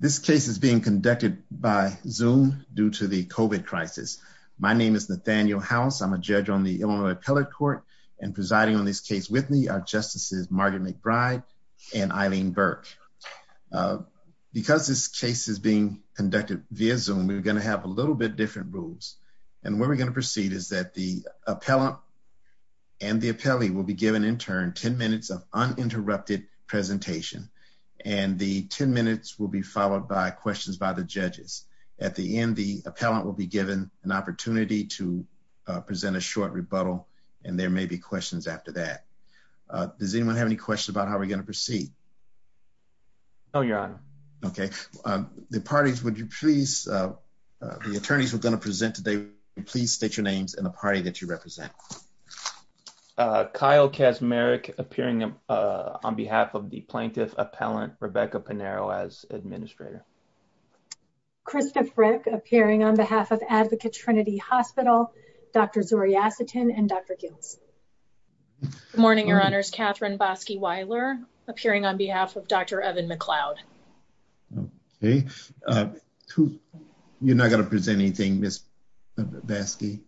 This case is being conducted by Zoom due to the COVID crisis. My name is Nathaniel House. I'm a judge on the Illinois Appellate Court and presiding on this case with me are Justices Margaret McBride and Eileen Burke. Because this case is being conducted via Zoom, we're going to have a little bit different rules and where we're going to proceed is that the appellant and the appellee will be given in turn 10 minutes of uninterrupted presentation and the 10 minutes will be followed by questions by the judges. At the end, the appellant will be given an opportunity to present a short rebuttal and there may be questions after that. Does anyone have any questions about how we're going to proceed? No, Your Honor. Okay. The parties, would you please, the attorneys we're going to present today, please state your names and the party that you represent. Kyle Kaczmarek, appearing on behalf of the plaintiff appellant Rebecca Panero as administrator. Krista Frick, appearing on behalf of Advocate Trinity Hospital, Dr. Zuri Asitin and Dr. Giltz. Good morning, Your Honors. Katherine Bosky-Weiler, appearing on behalf of Dr. Evan McLeod. Okay. You're not going to present anything, Ms. Bosky?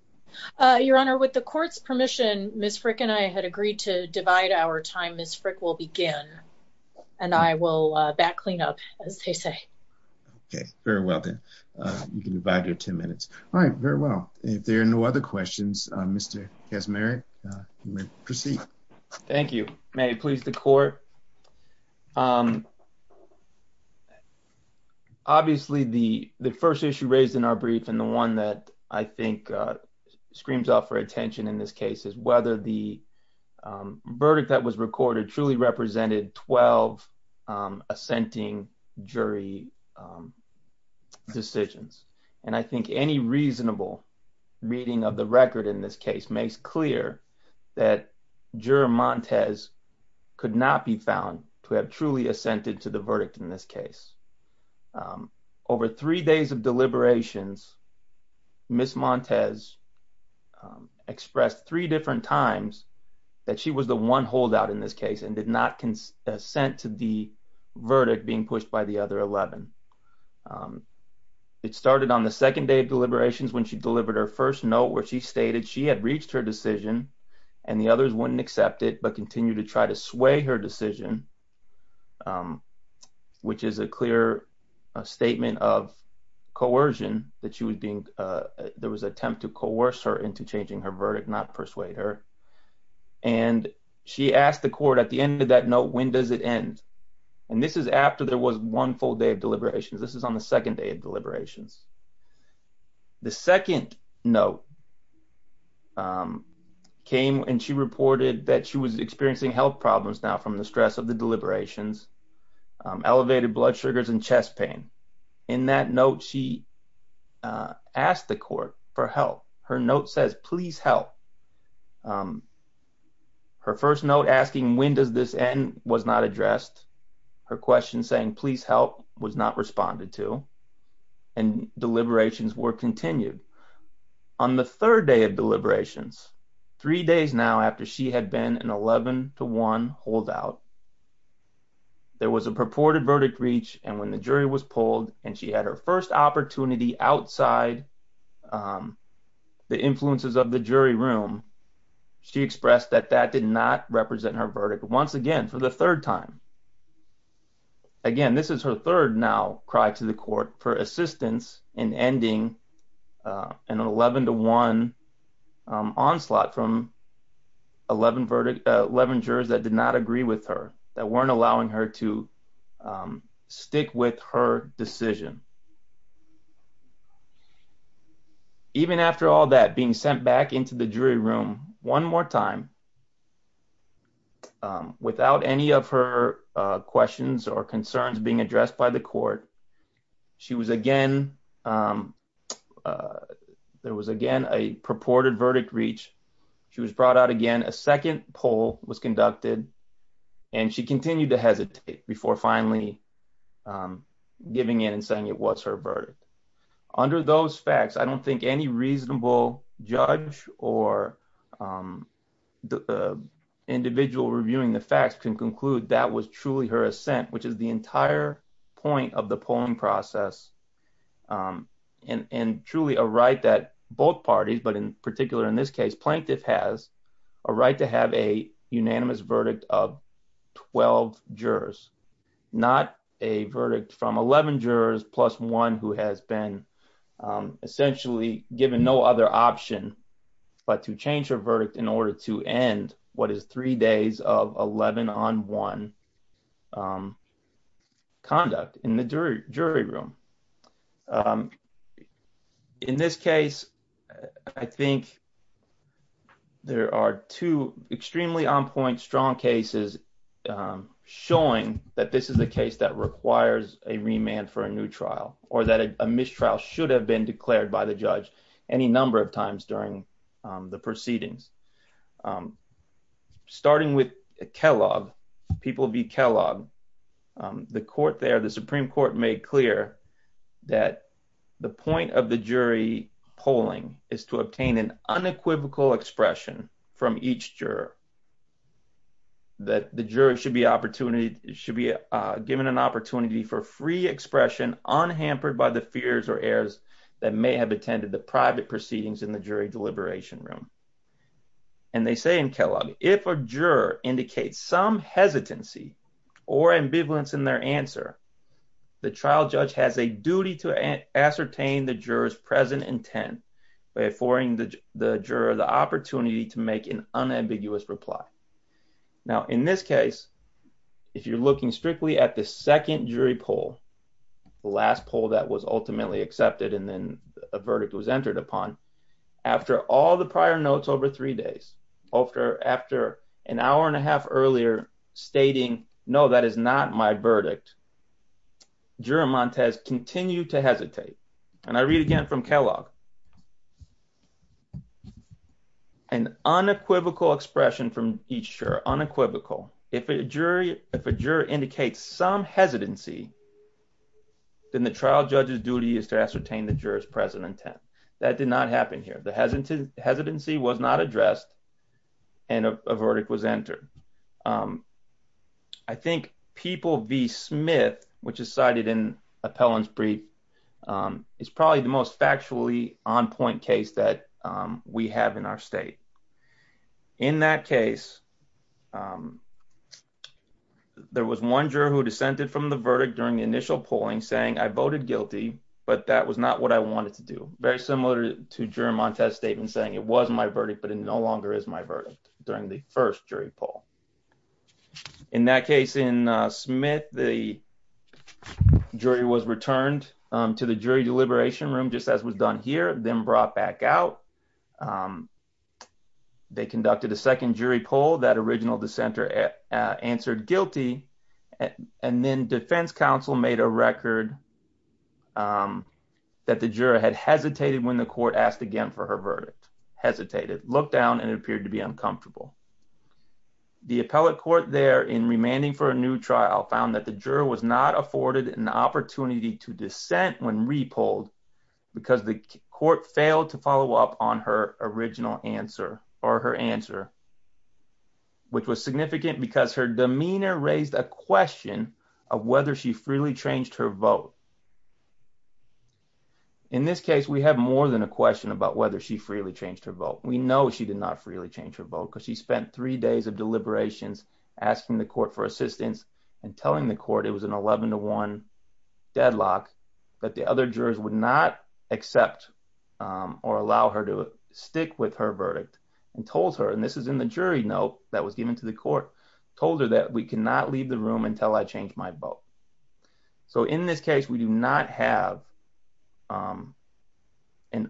Your Honor, with the court's permission, Ms. Frick and I had agreed to divide our time. Ms. Frick will begin and I will back clean up as they say. Okay. Very well then. You can divide your 10 minutes. All right. Very well. If there are no other questions, Mr. Kaczmarek, you may proceed. Thank you. May it please the court. Um, obviously the first issue raised in our brief and the one that I think screams out for attention in this case is whether the verdict that was recorded truly represented 12 assenting jury decisions. And I think any reasonable reading of the record in this case makes clear that Ms. Montes could not be found to have truly assented to the verdict in this case. Over three days of deliberations, Ms. Montes expressed three different times that she was the one holdout in this case and did not consent to the verdict being pushed by the other 11. It started on the second day of deliberations when she delivered her first note where she stated she had reached her decision and the others wouldn't accept it but continued to try to sway her decision, which is a clear statement of coercion that she was being, there was an attempt to coerce her into changing her verdict, not persuade her. And she asked the court at the end of that note, when does it end? And this is after there was one full day of deliberations. This is on the second day of deliberations. The second note came and she reported that she was experiencing health problems now from the stress of the deliberations, elevated blood sugars and chest pain. In that note, she asked the court for help. Her note says, please help. Her first note asking when does this end was not addressed. Her question saying please help was not responded to. And deliberations were continued. On the third day of deliberations, three days now after she had been an 11 to one holdout, there was a purported verdict reach and when the jury was pulled and she had her first opportunity outside the influences of the jury room, she expressed that that did not represent her verdict once again for the third time. Again, this is her third now cry to the court for assistance in ending an 11 to one onslaught from 11 verdict, 11 jurors that did not agree with her that weren't allowing her to stick with her decision. Even after all that being sent back into the jury room one more time without any of her questions or concerns being addressed by the court, she was again, there was again a purported verdict reach. She was brought out again, a second poll was conducted and she continued to hesitate before finally giving in and saying it was her verdict. Under those facts, I don't think any reasonable judge or individual reviewing the facts can conclude that was truly her assent, which is the entire point of the polling process and truly a right that both parties, but in particular in this case, plaintiff has a right to have a unanimous verdict of 12 jurors, not a verdict from 11 jurors plus one who has been essentially given no other option but to change her verdict in order to end what is three days of 11 on one conduct in the jury room. Um, in this case, I think there are two extremely on point strong cases showing that this is a case that requires a remand for a new trial or that a mistrial should have been declared by the judge any number of times during the proceedings. Um, starting with Kellogg, people be Kellogg, the court there, the Supreme Court made clear that the point of the jury polling is to obtain an unequivocal expression from each juror that the jury should be opportunity should be given an opportunity for free expression unhampered by the fears or errors that may have attended the private proceedings in the jury deliberation room. And they say in Kellogg, if a juror indicates some hesitancy or ambivalence in their answer, the trial judge has a duty to ascertain the jurors present intent by affording the juror the opportunity to make an unambiguous reply. Now, in this case, if you're looking strictly at the second jury poll, the last poll that was ultimately accepted and then a verdict was entered upon, after all the prior notes over three days, after an hour and a half earlier stating, no, that is not my verdict, juror Montes continued to hesitate. And I read again from Kellogg, an unequivocal expression from each juror, unequivocal. If a jury indicates some hesitancy, then the trial judge's duty is to ascertain the jurors present intent. That did not happen here. The hesitancy was not addressed and a verdict was entered. I think people v. Smith, which is cited in Appellant's brief, is probably the most factually on point case that we have in our state. In that case, there was one juror who dissented from the verdict during the initial polling saying I voted guilty, but that was not what I wanted to do. Very similar to juror Montes' statement saying it was my verdict, but it no longer is my verdict during the first jury poll. In that case in Smith, the jury was returned to the jury deliberation room, just as was done here, then brought back out. They conducted a second jury poll. That original dissenter answered guilty. And then defense counsel made a record that the juror had hesitated when the court asked again for her verdict, hesitated, looked down, and it appeared to be uncomfortable. The appellate court there in remanding for a new trial found that the juror was not afforded an opportunity to dissent when re-polled because the court failed to follow up on her original answer or her answer, which was significant because her demeanor raised a question of whether she freely changed her vote. In this case, we have more than a question about whether she freely changed her vote. We know she did not freely change her vote because she spent three days deliberations asking the court for assistance and telling the court it was an 11 to 1 deadlock that the other jurors would not accept or allow her to stick with her verdict and told her, and this is in the jury note that was given to the court, told her that we cannot leave the room until I change my vote. So in this case, we do not have an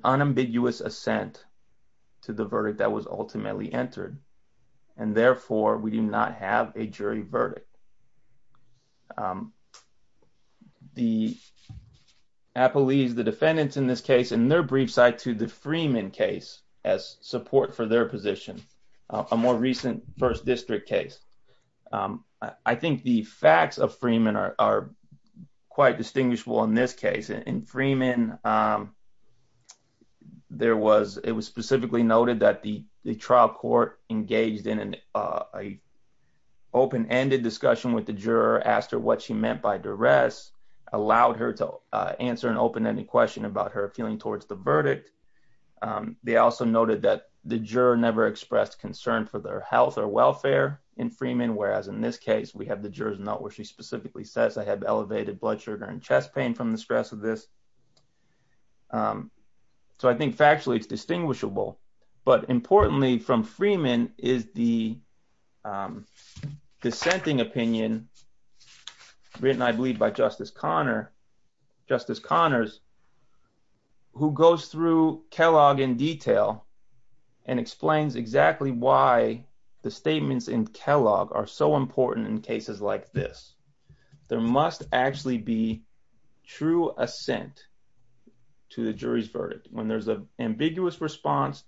unambiguous assent to the verdict that was ultimately entered, and therefore, we do not have a jury verdict. The appellees, the defendants in this case, in their brief cite to the Freeman case as support for their position, a more recent first district case. I think the facts of Freeman are quite distinguishable in this case. In Freeman, it was specifically noted that the trial court engaged in an open-ended discussion with the juror, asked her what she meant by duress, allowed her to answer an open-ended question about her feeling towards the verdict. They also noted that the juror never expressed concern for their health or welfare in Freeman, whereas in this case, we have the juror's note where I have elevated blood sugar and chest pain from the stress of this. So I think factually, it's distinguishable, but importantly, from Freeman is the dissenting opinion written, I believe, by Justice Connors, who goes through Kellogg in detail and explains exactly why the statements in Kellogg are so important in cases like this. There must actually be true assent to the jury's verdict. When there's an ambiguous response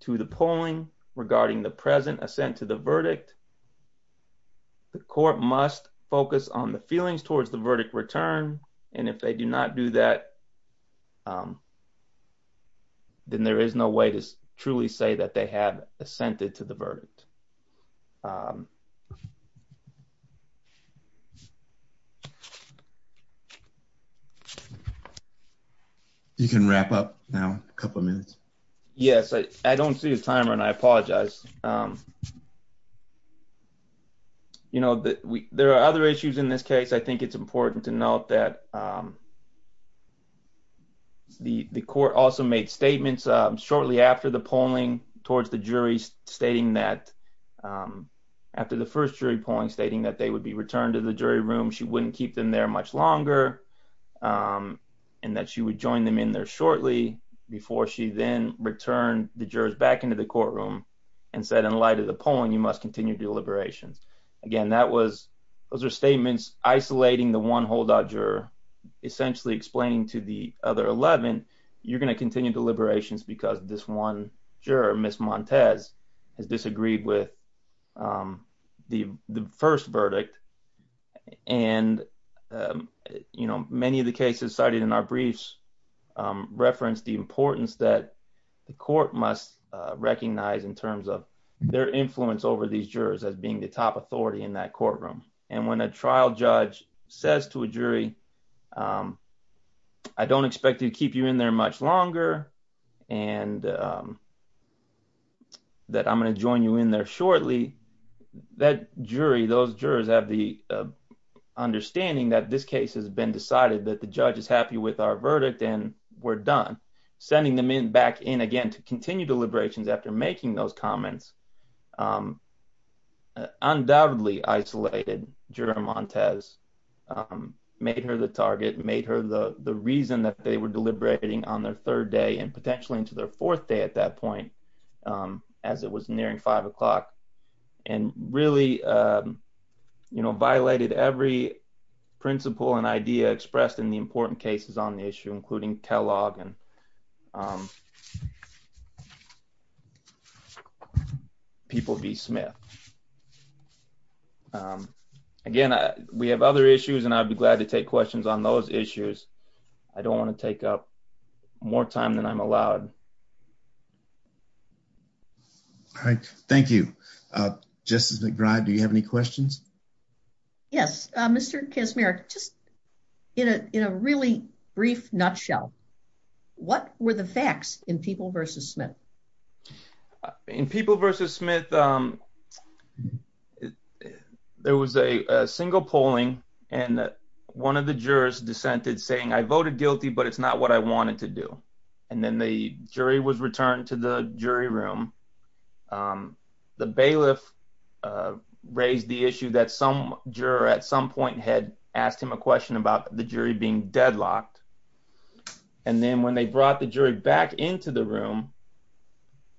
to the polling regarding the present assent to the verdict, the court must focus on the feelings towards the verdict return, and if they do not do that, then there is no way to truly say that they have assented to the verdict. Thank you. You can wrap up now, a couple of minutes. Yes, I don't see a timer, and I apologize. You know, there are other issues in this case. I think it's important to note that the court also made statements shortly after the polling towards the jury, stating that after the first jury polling, stating that they would be returned to the jury room, she wouldn't keep them there much longer, and that she would join them in there shortly before she then returned the jurors back into the courtroom and said, in light of the polling, you must continue deliberations. Again, those are statements isolating the one holdout juror, essentially explaining to the other 11, you're going to continue deliberations because this one the first verdict, and, you know, many of the cases cited in our briefs reference the importance that the court must recognize in terms of their influence over these jurors as being the top authority in that courtroom, and when a trial judge says to a jury, I don't expect to keep you in there much longer, and that I'm going to join you in there shortly, that jury, those jurors have the understanding that this case has been decided, that the judge is happy with our verdict, and we're done. Sending them back in again to continue deliberations after making those comments undoubtedly isolated Juror Montes, made her the target, made her the reason that they were deliberating on their third day and potentially into their fourth day at that and really, you know, violated every principle and idea expressed in the important cases on the issue, including Kellogg and People v. Smith. Again, we have other issues, and I'd be glad to take questions on those issues. I don't want to take up more time than I'm allowed. All right. Thank you. Justice McBride, do you have any questions? Yes. Mr. Kaczmarek, just in a really brief nutshell, what were the facts in People v. Smith? In People v. Smith, there was a single polling, and one of the jurors dissented saying, I voted guilty, but it's not what I wanted to do. And then the jury was returned to the jury room. The bailiff raised the issue that some juror at some point had asked him a question about the jury being deadlocked. And then when they brought the jury back into the room,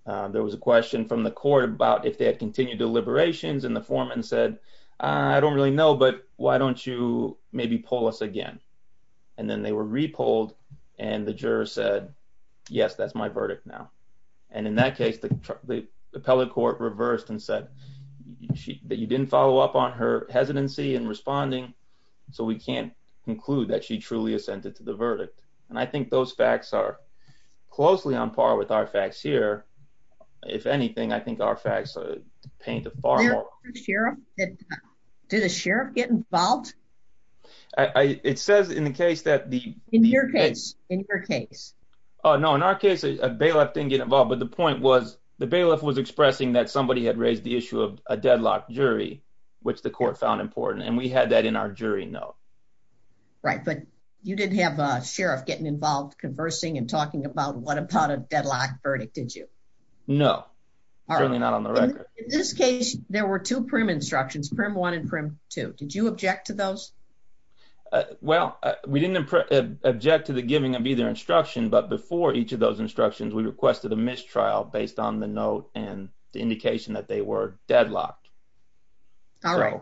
there was a question from the court about if they had continued deliberations, and the foreman said, I don't really know, but why don't you maybe poll us again? And then they were re-polled, and the juror said, yes, that's my verdict now. And in that case, the appellate court reversed and said that you didn't follow up on her hesitancy in responding, so we can't conclude that she truly assented to the verdict. And I think those facts are closely on par with our facts here. If anything, I think our facts paint a far more... Did a sheriff get involved? It says in the case that the... In your case. In your case. No, in our case, a bailiff didn't get involved. But the point was, the bailiff was expressing that somebody had raised the issue of a deadlocked jury, which the court found important, and we had that in our jury note. Right, but you didn't have a sheriff getting involved conversing and talking about what a deadlocked verdict, did you? No, certainly not on the record. In this case, there were two prim instructions, Prim 1 and Prim 2. Did you object to those? Well, we didn't object to the giving of either instruction, but before each of those instructions, we requested a mistrial based on the note and the indication that they were deadlocked. All right.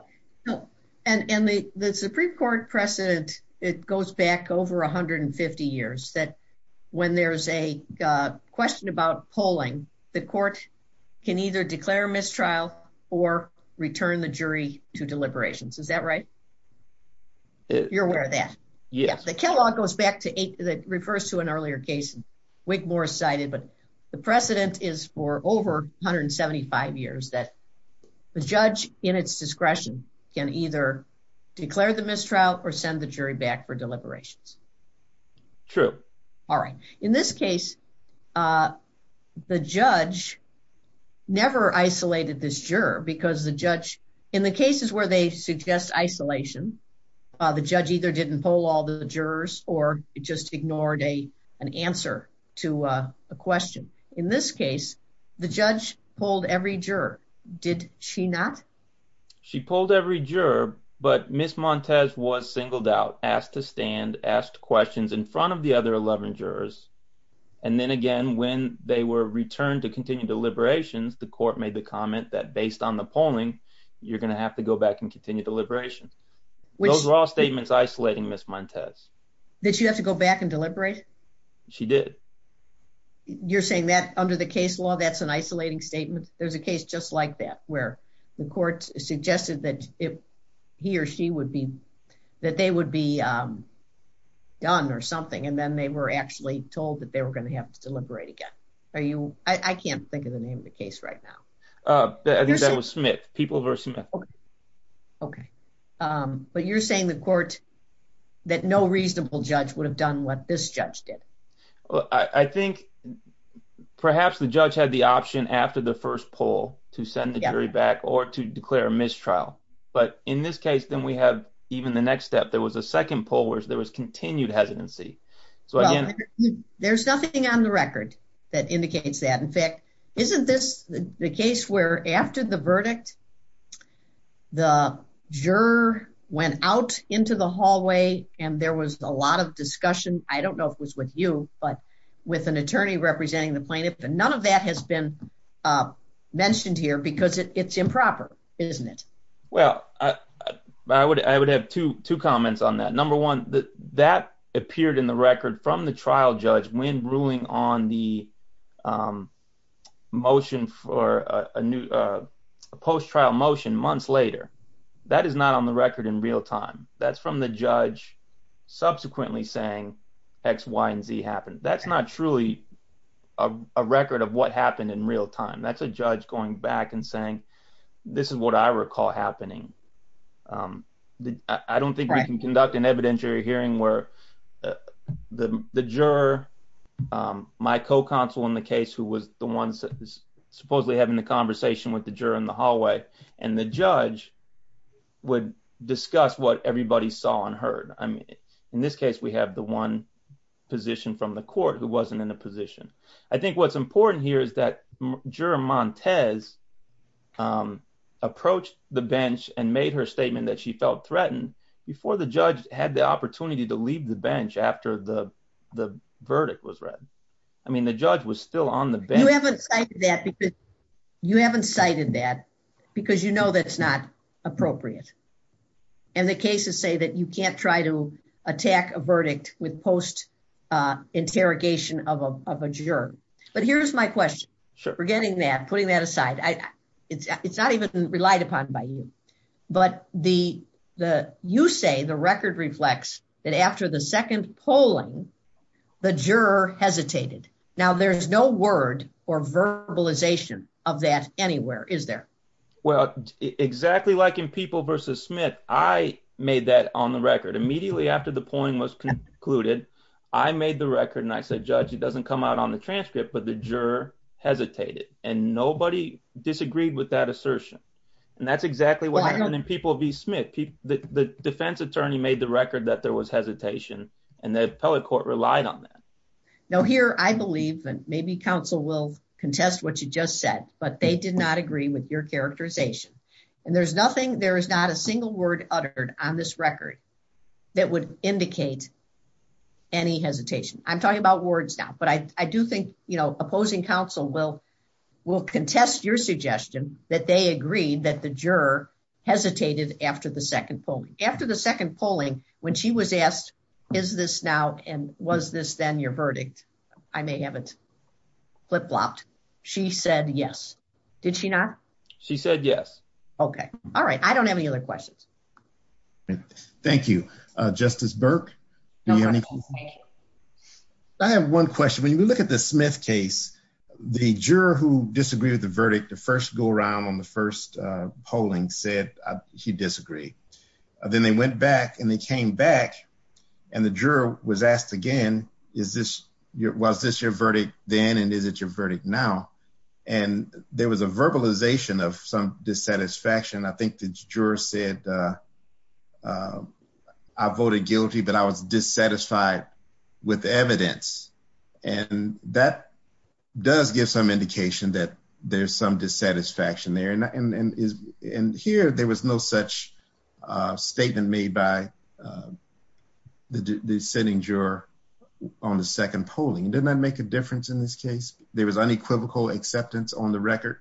And the Supreme Court precedent, it goes back over 150 years, that when there's a question about polling, the court can either declare a mistrial or return the jury to deliberations. Is that right? You're aware of that? Yes. The Kell law goes back to... It refers to an earlier case, Wigmore cited, but the precedent is for over 175 years that the judge, in its discretion, can either declare the mistrial or send the jury back for deliberations. True. All right. In this case, the judge never isolated this juror because the judge, in the cases where they suggest isolation, the judge either didn't poll all the jurors or just ignored an answer to a question. In this case, the judge polled every juror. Did she not? She polled every juror, but Ms. Montes was singled out, asked to stand, asked questions in front of the other 11 jurors. And then again, when they were returned to continue deliberations, the court made the comment that based on the polling, you're going to have to go back and continue deliberations. Those were all statements isolating Ms. Montes. Did she have to go back and deliberate? She did. You're saying that under the case law, that's an isolating statement? There's a case just like that, where the court suggested that he or she would be, that they would be done or something, and then they were actually told that they were going to have to deliberate again. Are you, I can't think of the name of the case right now. I think that was Smith, People v. Smith. Okay. But you're saying the court, that no reasonable judge would have done what this judge Well, I think perhaps the judge had the option after the first poll to send the jury back or to declare a mistrial. But in this case, then we have even the next step, there was a second poll, where there was continued hesitancy. So again, There's nothing on the record that indicates that. In fact, isn't this the case where after the verdict, the juror went out into the hallway, and there was a lot of discussion. I don't know if it was with you, but with an attorney representing the plaintiff, and none of that has been mentioned here because it's improper, isn't it? Well, I would have two comments on that. Number one, that appeared in the record from the trial judge when ruling on the motion for a new post trial motion months later. That is not on the That's not truly a record of what happened in real time. That's a judge going back and saying, this is what I recall happening. I don't think we can conduct an evidentiary hearing where the juror, my co-counsel in the case, who was the one supposedly having the conversation with the juror in the hallway, and the judge would discuss what everybody saw and heard. I mean, in this case, we have the one position from the court who wasn't in a position. I think what's important here is that juror Montez approached the bench and made her statement that she felt threatened before the judge had the opportunity to leave the bench after the verdict was read. I mean, the judge was still on the bench. You haven't cited that because you know that's not appropriate. And the cases say that you can't try to attack a verdict with post interrogation of a juror. But here's my question. Forgetting that, putting that aside. It's not even relied upon by you. But you say the record reflects that after the second polling, the juror hesitated. Now there's no word or verbalization of that anywhere, is there? Well, exactly like in People versus Smith, I made that on the record. Immediately after the polling was concluded, I made the record and I said, judge, it doesn't come out on the transcript, but the juror hesitated and nobody disagreed with that assertion. And that's exactly what happened in People v. Smith. The defense attorney made the record that there was hesitation and the appellate court relied on that. Now here, I believe that maybe counsel will contest what you just said, but they did not agree with your characterization. And there's nothing, there is not a single word uttered on this record that would indicate any hesitation. I'm talking about words now, but I do think opposing counsel will contest your suggestion that they agreed that the juror hesitated after the second polling. After the second polling, when she was asked, is this now and was this then your verdict? I may have it blocked. She said yes. Did she not? She said yes. Okay. All right. I don't have any other questions. Thank you, Justice Burke. I have one question. When you look at the Smith case, the juror who disagreed with the verdict, the first go around on the first polling said he disagreed. Then they went back and they came back and the juror was asked again, is this, was this your verdict then and is it your verdict now? And there was a verbalization of some dissatisfaction. I think the juror said, I voted guilty, but I was dissatisfied with evidence. And that does give some indication that there's some dissatisfaction there. And here there was no such statement made by the sitting juror on the second polling. Didn't that make a difference in this case? There was unequivocal acceptance on the record.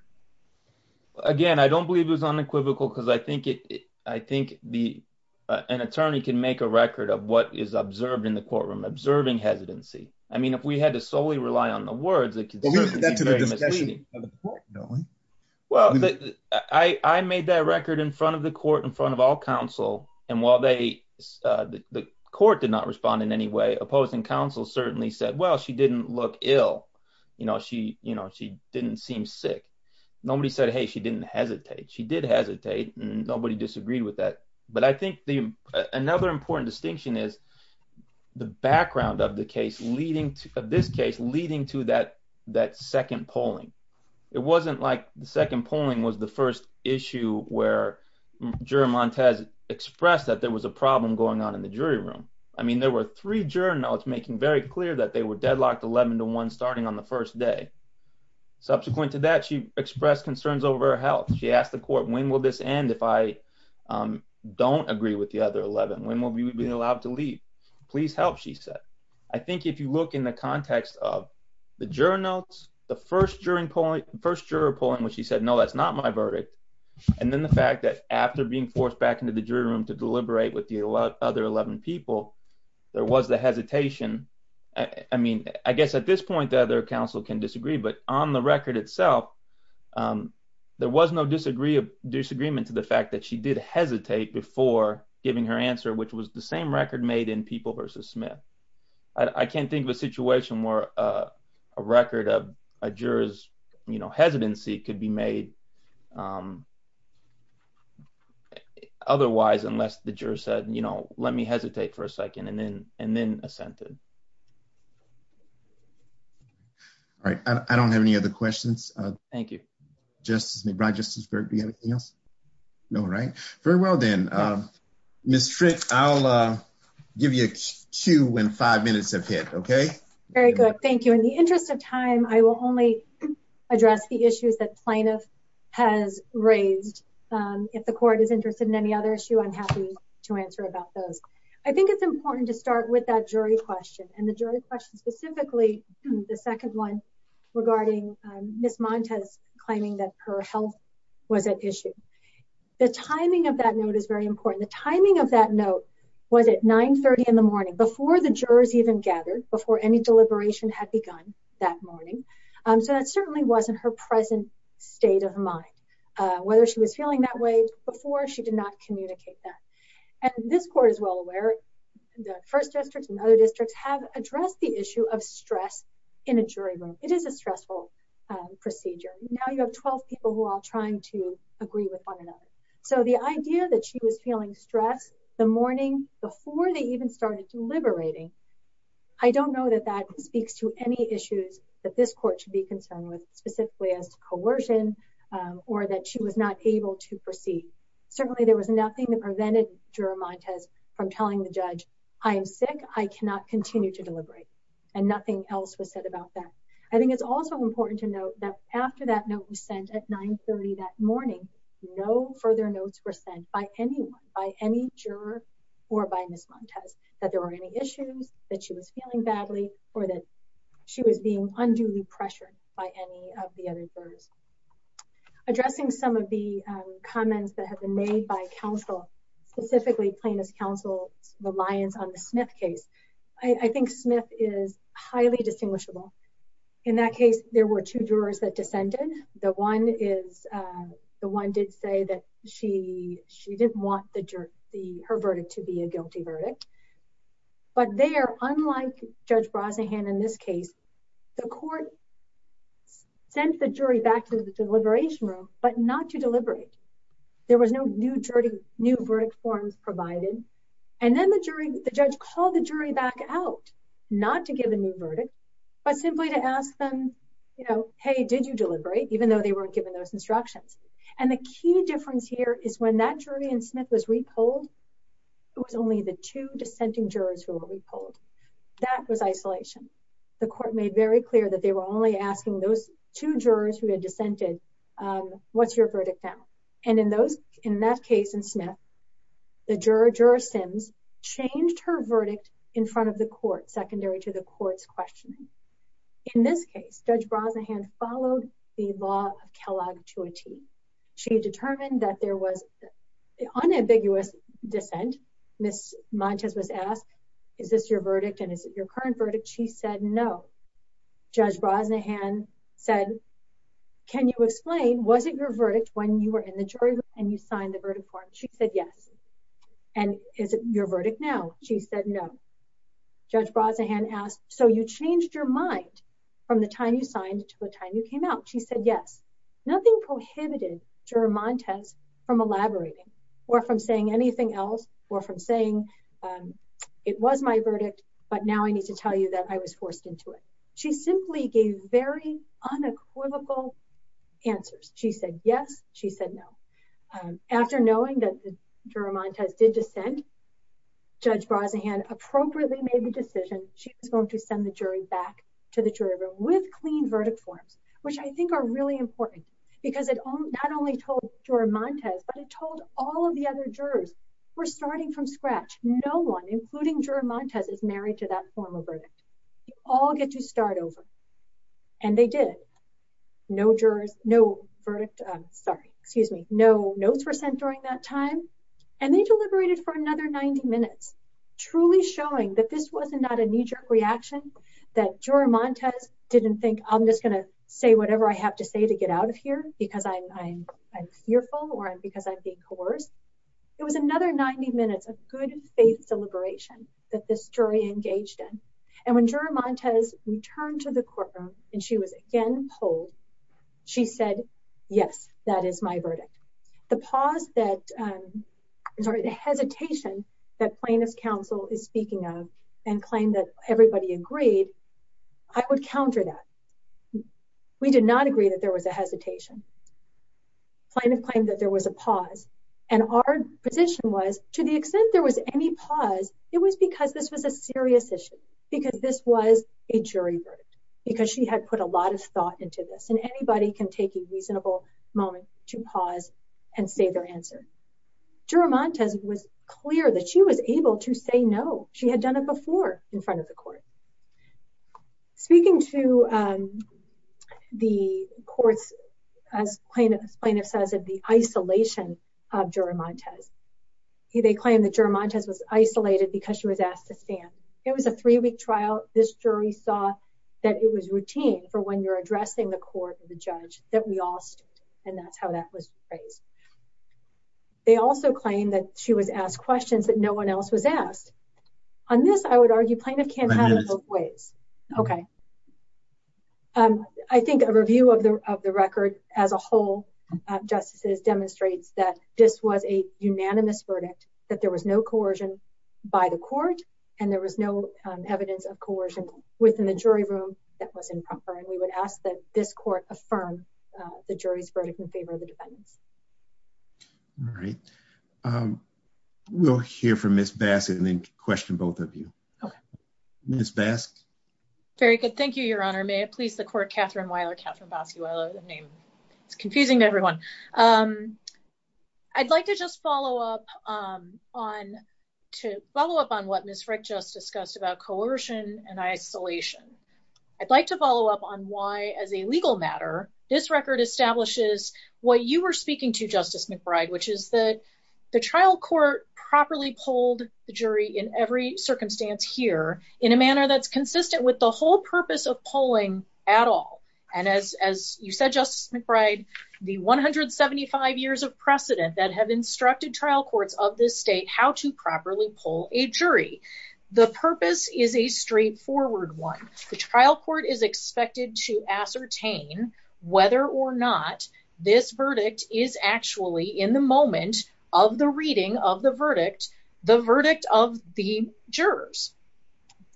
Again, I don't believe it was unequivocal because I think it, I think the, an attorney can make a record of what is observed in the courtroom, observing hesitancy. I mean, if we had to solely rely on the words, it could certainly be misleading. Well, I made that record in front of the court, in front of all counsel. And while they, the court did not respond in any way, opposing counsel certainly said, well, she didn't look ill. You know, she, you know, she didn't seem sick. Nobody said, hey, she didn't hesitate. She did hesitate and nobody disagreed with that. But I think the, another important distinction is the background of the case leading to, of this case leading to that, that second polling. It wasn't like the second polling was the first issue where juror Montez expressed that there was a problem going on in the jury room. I mean, there were three juror notes making very clear that they were deadlocked 11 to one starting on the first day. Subsequent to that, she expressed concerns over her health. She asked the court, when will this end? If I don't agree with the other 11, when will we be allowed to leave? Please help, she said. I think if you look in the context of the juror notes, the first juror polling when she said, no, that's not my verdict. And then the fact that after being forced back into the jury room to deliberate with the other 11 people, there was the hesitation. I mean, I guess at this point, the other counsel can disagree, but on the record itself, there was no disagree, disagreement to the fact that she did hesitate before giving her answer, which was the same record made in People versus Smith. I can't think of a situation where a record of a juror's, you know, hesitancy could be made otherwise, unless the juror said, you know, let me hesitate for a second and then, and then assented. All right. I don't have any other questions. Thank you, Justice McBride. Justice Berg, do you have anything else? No, right. Very well then. Ms. Frick, I'll give you a cue when five minutes have hit. Okay. Very good. Thank you. In the interest of time, I will only address the issues that plaintiff has raised. If the court is interested in any other issue, I'm happy to answer about those. I think it's important to start with that jury question and the jury question specifically, the second one regarding Ms. Montes claiming that her health was at issue. The timing of that note is very important. The timing of that note was at 930 in the morning before the jurors even gathered, before any deliberation had begun that morning. So that certainly wasn't her present state of mind. Whether she was feeling that way before, she did not communicate that. And this court is well aware, the first districts and other districts have addressed the issue of stress in a jury room. It is a stressful procedure. Now you have 12 people who are all trying to agree with one another. So the idea that she was feeling stress the morning before they even started deliberating, I don't know that that speaks to any issues that this court should be concerned with specifically as to coercion or that she was not able to proceed. Certainly there was nothing that prevented juror Montes from telling the judge, I am sick, I cannot continue to deliberate. And nothing else was said about that. I think it's also important to note that after that note was sent at 930 that morning, no further notes were sent by anyone, by any juror or by Ms. Montes that there were any issues that she was feeling badly or that she was being unduly pressured by any of the other jurors. Addressing some of the comments that have been made by counsel, specifically plaintiff's counsel's reliance on the Smith case, I think Smith is highly distinguishable. In that case, there were two jurors that descended. The one did say that she didn't want her verdict to be a guilty verdict. But there, unlike Judge Brosnahan in this case, the court sent the jury back to the deliberation room, but not to deliberate. There was no new verdict forms provided. And then the judge called the jury back out, not to give a new verdict, but simply to ask them, you know, hey, did you deliberate, even though they weren't given those instructions. And the key difference here is when that jury in Smith was re-polled, it was only the two dissenting jurors who were re-polled. That was isolation. The court made very clear that they were only asking those two jurors who had dissented, what's your verdict now? And in those, in that case in Smith, the juror, Juror Sims, changed her verdict in front of the court, secondary to the court's questioning. In this case, Judge Brosnahan followed the law of acuity. She determined that there was unambiguous dissent. Ms. Montes was asked, is this your verdict? And is it your current verdict? She said, no. Judge Brosnahan said, can you explain, was it your verdict when you were in the jury room and you signed the verdict form? She said, yes. And is it your verdict now? She said, no. Judge Brosnahan asked, so you changed your mind from the time you signed to the time you came out. She said, yes. Nothing prohibited Juror Montes from elaborating or from saying anything else or from saying, it was my verdict, but now I need to tell you that I was forced into it. She simply gave very unequivocal answers. She said, yes. She said, no. After knowing that the Juror Montes did dissent, Judge Brosnahan appropriately made the decision. She was going to send the jury back to the jury room with clean verdict forms, which I think are really important because it not only told Juror Montes, but it told all of the other jurors, we're starting from scratch. No one, including Juror Montes, is married to that form of verdict. We all get to start over. And they did. No jurors, no verdict, sorry, excuse me. No notes were sent during that time. And they deliberated for another 90 minutes. Truly showing that this was not a knee-jerk reaction, that Juror Montes didn't think I'm just going to say whatever I have to say to get out of here because I'm fearful or because I'm being coerced. It was another 90 minutes of good faith deliberation that this jury engaged in. And when Juror Montes returned to the courtroom and she was again polled, she said, yes, that is my counsel is speaking of and claim that everybody agreed. I would counter that. We did not agree that there was a hesitation. Plaintiff claimed that there was a pause. And our position was to the extent there was any pause, it was because this was a serious issue, because this was a jury verdict, because she had put a lot of thought into this. And anybody can take a reasonable moment to pause and say their answer. Juror Montes was clear that she was able to say no. She had done it before in front of the court. Speaking to the courts, as plaintiff says, the isolation of Juror Montes. They claimed that Juror Montes was isolated because she was asked to stand. It was a three-week trial. This jury saw that it was routine for when you're addressing the court or the judge that we all stood. And that's how that was raised. They also claimed that she was asked questions that no one else was asked. On this, I would argue plaintiff can't have it both ways. Okay. I think a review of the record as a whole of justices demonstrates that this was a unanimous verdict, that there was no coercion by the court and there was no evidence of coercion within the jury room that was improper. And we would ask that this court affirm the jury's verdict in favor of the defendants. All right. We'll hear from Ms. Bassett and then question both of you. Okay. Ms. Bassett. Very good. Thank you, Your Honor. May it please the court, Catherine Weiler, Catherine Basquio. The name is confusing to everyone. I'd like to just I'd like to follow up on why as a legal matter, this record establishes what you were speaking to Justice McBride, which is that the trial court properly polled the jury in every circumstance here in a manner that's consistent with the whole purpose of polling at all. And as you said, Justice McBride, the 175 years of precedent that have instructed trial courts of this state, how to properly poll a jury. The purpose is a straightforward one. The trial court is expected to ascertain whether or not this verdict is actually in the moment of the reading of the verdict, the verdict of the jurors.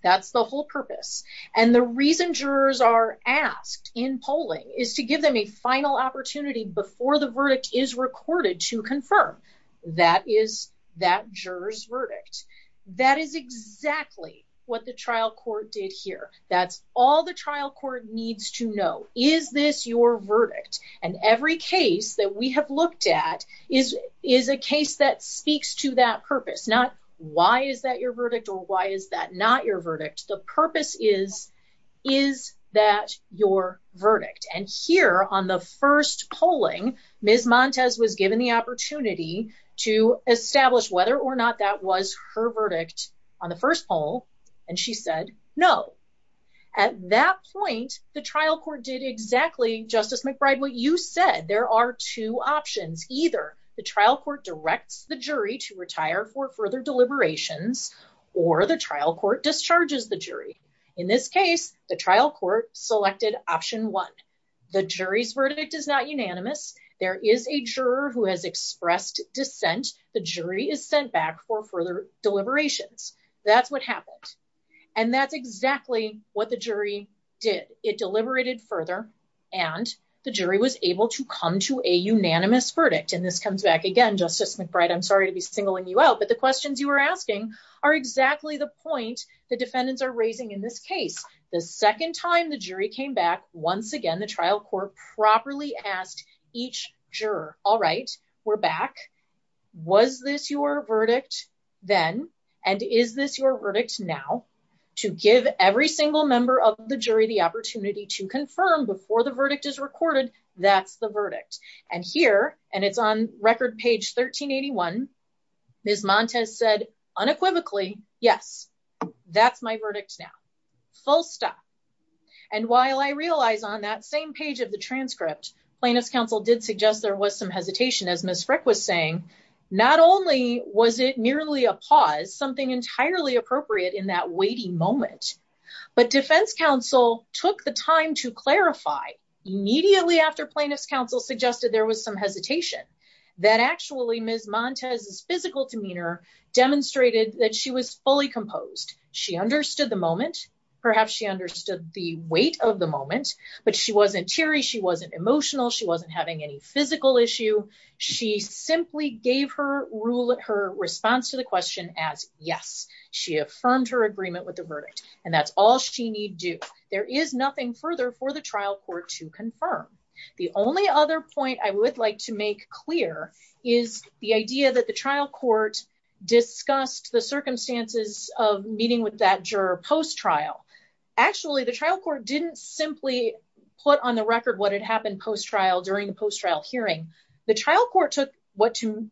That's the whole purpose. And the reason jurors are asked in polling is to give them a final opportunity before the verdict is recorded to confirm. That is that jurors verdict. That is exactly what the trial court did here. That's all the trial court needs to know. Is this your verdict? And every case that we have looked at is is a case that speaks to that purpose, not why is that your verdict or why is that not your verdict? The purpose is, is that your verdict? And here on the first polling, Ms. Montes was given the opportunity to establish whether or not that was her verdict on the first poll. And she said no. At that point, the trial court did exactly, Justice McBride, what you said. There are two options. Either the trial court directs the jury to retire for further deliberations or the trial court discharges the jury. In this case, the trial court selected option one. The jury's verdict is not unanimous. There is a juror who has expressed dissent. The jury is sent back for further deliberations. That's what happened. And that's exactly what the jury did. It deliberated further and the jury was able to come to a unanimous verdict. And this comes back again, Justice McBride, I'm sorry to be singling you out, but the questions you were asking are exactly the point the defendants are raising in this case. The second time the jury came back, once again, the trial court properly asked each juror, all right, we're back. Was this your verdict then? And is this your verdict now? To give every single member of the jury the opportunity to confirm before the verdict is Ms. Montes said unequivocally, yes, that's my verdict now. Full stop. And while I realize on that same page of the transcript, plaintiff's counsel did suggest there was some hesitation, as Ms. Frick was saying, not only was it merely a pause, something entirely appropriate in that waiting moment, but defense counsel took the time to clarify immediately after plaintiff's counsel suggested there was some hesitation that actually Ms. Montes' physical demeanor demonstrated that she was fully composed. She understood the moment, perhaps she understood the weight of the moment, but she wasn't teary, she wasn't emotional, she wasn't having any physical issue. She simply gave her response to the question as yes. She affirmed her agreement with the verdict and that's all she need do. There is nothing further for the trial court to confirm. The only other point I would like to make clear is the idea that the trial court discussed the circumstances of meeting with that juror post-trial. Actually the trial court didn't simply put on the record what had happened post-trial during the post-trial hearing. The trial court took what to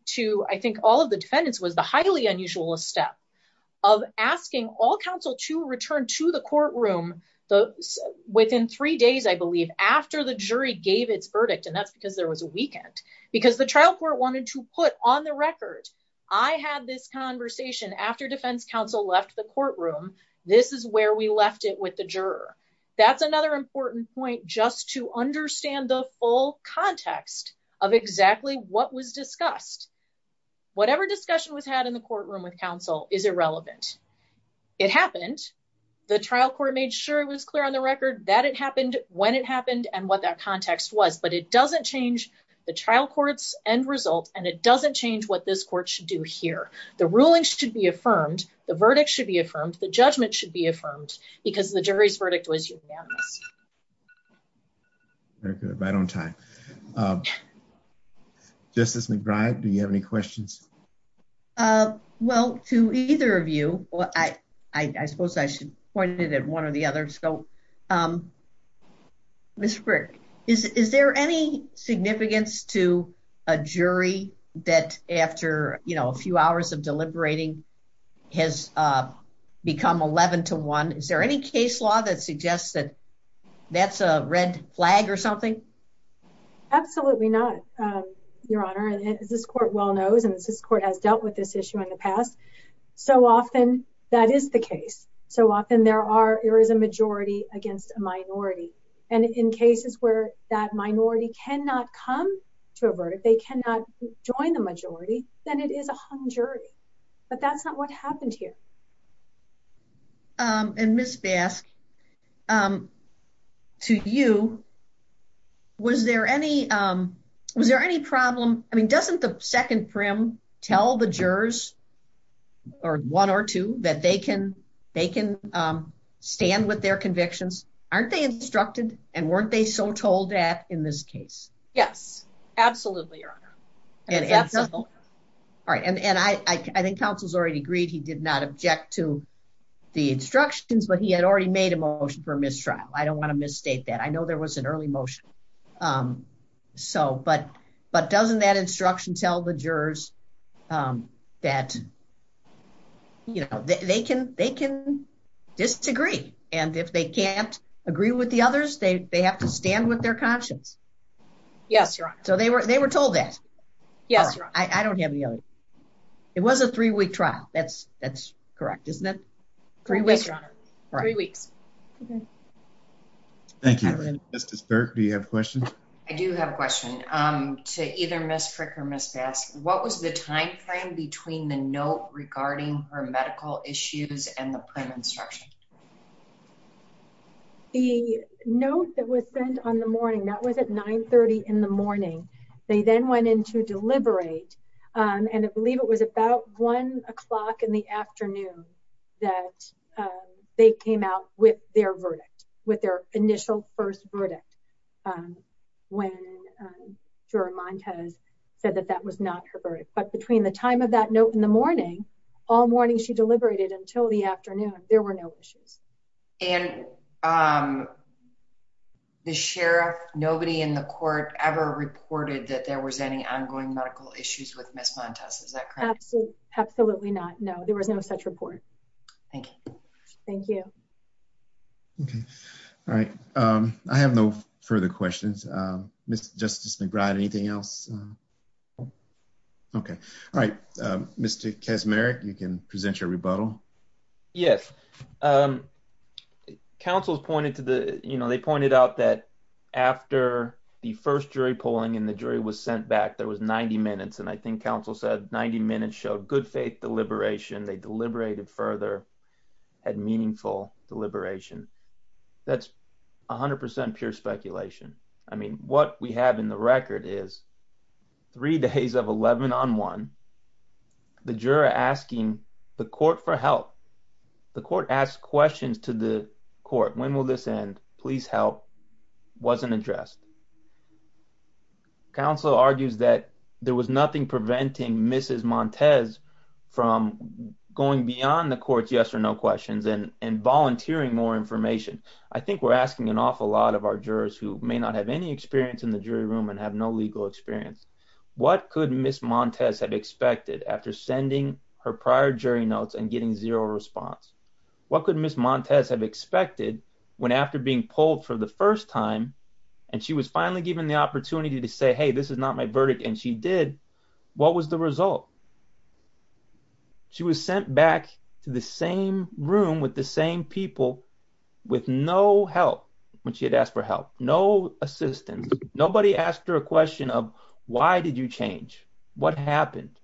I think all of the defendants was the highly unusual step of asking all counsel to return to the courtroom within three days I believe after the jury gave its verdict and that's because there was a weekend because the trial court wanted to put on the record I had this conversation after defense counsel left the courtroom, this is where we left it with the juror. That's another important point just to understand the full context of exactly what was discussed. Whatever discussion was had in the courtroom with counsel is irrelevant. It happened the trial court made sure it was clear on the record that it happened when it happened and what that context was but it doesn't change the trial court's end result and it doesn't change what this court should do here. The ruling should be affirmed, the verdict should be affirmed, the judgment should be affirmed because the jury's verdict was unanimous. Very good right on time. Justice McBride do you have any questions? Well to either of you well I suppose I should point it at one or the other so Ms. Frick is there any significance to a jury that after you know a few hours of deliberating has become 11 to 1? Is there any case law that suggests that that's a red flag or something? Absolutely not um your honor and as this court well knows and this court has dealt with this issue in the past so often that is the case so often there are there is a majority against a minority and in cases where that minority cannot come to a verdict they cannot join the majority then it is a hung jury but that's not what happened here. Um and Ms. Bask um to you was there any um was there any problem I mean doesn't the second prim tell the jurors or one or two that they can they can um stand with their convictions? Aren't they instructed and weren't they so told that in this case? Yes absolutely your honor. All right and and I I think counsel's already agreed he did not object to the instructions but he had already made a motion for early motion um so but but doesn't that instruction tell the jurors um that you know they can they can disagree and if they can't agree with the others they they have to stand with their conscience? Yes your honor. So they were they were told that? Yes your honor. I don't have any other it was a three-week trial that's that's correct isn't it? Three weeks your honor three weeks. Okay thank you. Justice Burke do you have questions? I do have a question um to either Ms. Frick or Ms. Bask what was the time frame between the note regarding her medical issues and the prim instruction? The note that was sent on the morning that was at 9 30 in the morning they then went in to deliberate um and I believe it was about one o'clock in the afternoon that they came out with their verdict with their initial first verdict um when juror Montez said that that was not her verdict but between the time of that note in the morning all morning she deliberated until the afternoon there were no issues. And um the sheriff nobody in the court ever reported that there was any ongoing medical issues with Ms. Montez is that absolutely not no there was no such report. Thank you. Thank you. Okay all right um I have no further questions um Mr. Justice McBride anything else? Okay all right um Mr. Kaczmarek you can present your rebuttal. Yes um council's pointed to the you know they pointed out that after the first jury polling and the jury was sent back there was 90 minutes and I think council said 90 minutes showed good faith deliberation they deliberated further had meaningful deliberation that's 100 pure speculation I mean what we have in the record is three days of 11 on one the juror asking the court for help the court asked questions to the court when will this end please help wasn't addressed council argues that there was nothing preventing Mrs. Montez from going beyond the court's yes or no questions and and volunteering more information I think we're asking an awful lot of our jurors who may not have any experience in the jury room and have no legal experience what could Miss Montez have expected after sending her prior jury notes and getting zero response what could Miss Montez have expected when after being polled for the first time and she was finally given the opportunity to say hey this is not my verdict and she did what was the result she was sent back to the same room with the same people with no help when she had asked for help no assistance nobody asked her question of why did you change what happened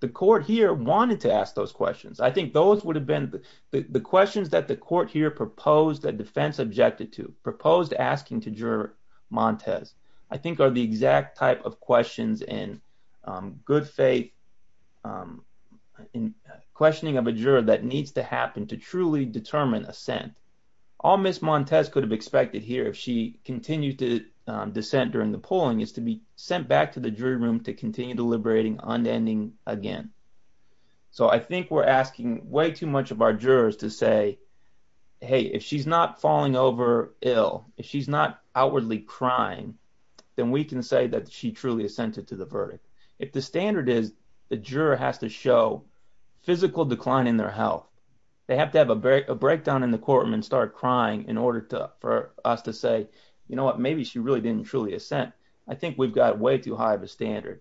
the court here wanted to ask those questions I think those would have been the questions that the court here proposed that defense objected to proposed asking to juror Montez I think are the exact type of questions and good faith in questioning of a juror that needs to happen to truly determine assent all Miss Montez could have expected here if she continued to dissent during the polling is to be sent back to the jury room to continue deliberating unending again so I think we're asking way too much of our jurors to say hey if she's not falling over ill if she's not outwardly crying then we can say that she truly assented to the verdict if the standard is the juror has to show physical decline in their health they have to have a breakdown in the courtroom and start crying in order to for us to say you know what maybe she really didn't truly assent I think we've got way too high of a standard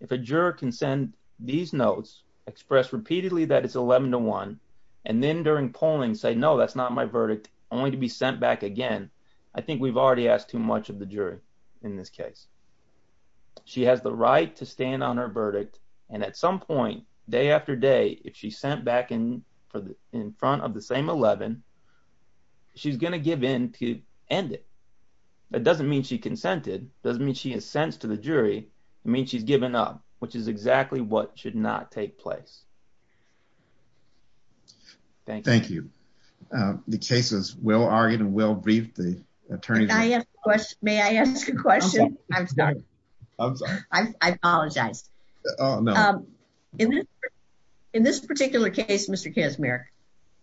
if a juror can send these notes express repeatedly that it's 11 to 1 and then during polling say no that's not my verdict only to be sent back again I think we've already asked too much of the jury in this case she has the right to stand on her verdict and at some point day after day if she sent back in for the in front of the same 11 she's going to give in to end it that doesn't mean she consented doesn't mean she has sense to the jury I mean she's given up which is exactly what should not take place thank you thank you the case is well argued and well briefed the case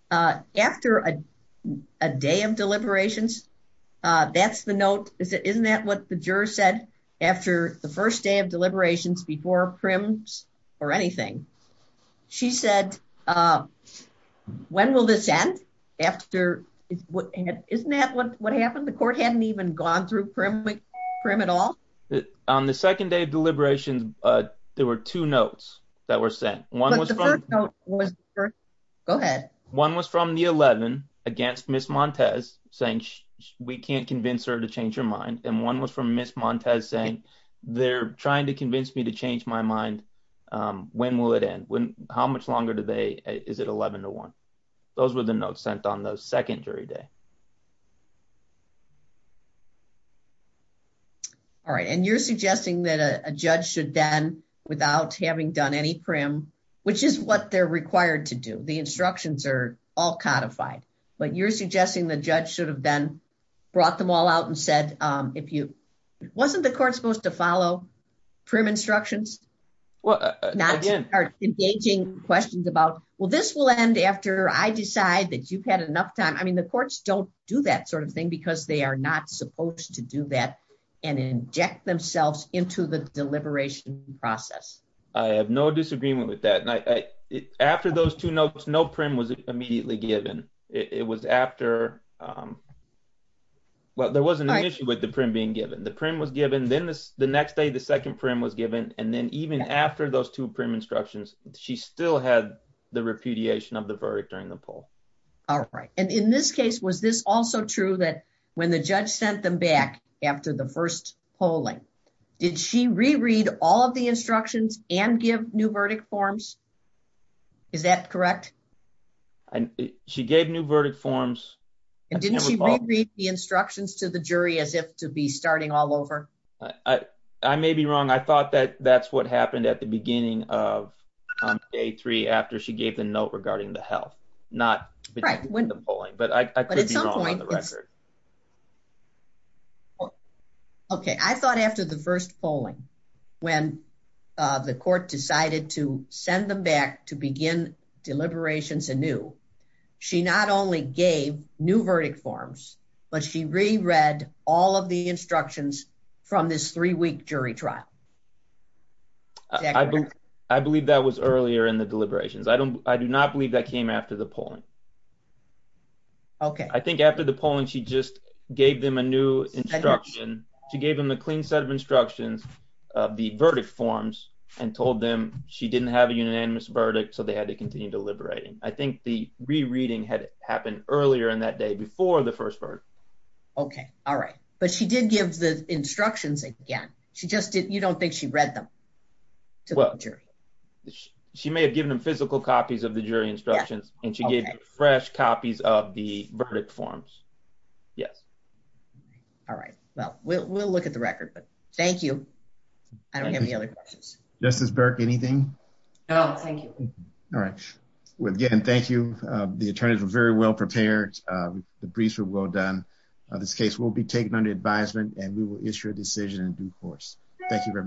uh after a day of deliberations uh that's the note is it isn't that what the juror said after the first day of deliberations before prims or anything she said uh when will this end after is what isn't that what what happened the court hadn't even gone through prim prim at all on the second day of deliberations uh there were two notes that were sent one was the first note go ahead one was from the 11 against miss montez saying we can't convince her to change her mind and one was from miss montez saying they're trying to convince me to change my mind um when will it end when how much longer do they is it 11 to 1 those were the notes sent on the second jury day all right and you're suggesting that a judge should then without having done any prim which is what they're required to do the instructions are all codified but you're suggesting the judge should have then brought them all out and said um if you wasn't the court supposed to follow prim instructions well not engaging questions about well this will end after I decide that you've had enough time I mean the courts don't do that sort of thing because they are not supposed to do that and inject themselves into the deliberation process I have no disagreement with that and I after those two notes no prim was immediately given it was after um well there wasn't an issue with the prim being given the prim was given then the next day the second prim was given and then even after those two prim instructions she still had the repudiation of the verdict during the poll all right and in this case was this also true that when the judge sent them back after the first polling did she reread all of the instructions and give new verdict forms is that correct and she gave new verdict forms and didn't she read the instructions to the jury as if to be starting all over I I may be wrong I thought that that's what happened at the beginning of day three after she gave the note regarding the health not right when the polling but I could be wrong on the record okay I thought after the first polling when uh the court decided to send them back to begin deliberations anew she not only gave new verdict forms but she reread all of the instructions from this three-week jury trial I believe that was earlier in the deliberations I don't I do believe that came after the polling okay I think after the polling she just gave them a new instruction she gave them a clean set of instructions of the verdict forms and told them she didn't have a unanimous verdict so they had to continue deliberating I think the rereading had happened earlier in that day before the first part okay all right but she did give the instructions again she just did you don't think she read them to the jury she may have given physical copies of the jury instructions and she gave fresh copies of the verdict forms yes all right well we'll look at the record but thank you I don't have any other questions Justice Burke anything no thank you all right well again thank you uh the attorneys were very well prepared uh the briefs were well done uh this case will be taken under advisement and we will issue a decision in due course thank you very much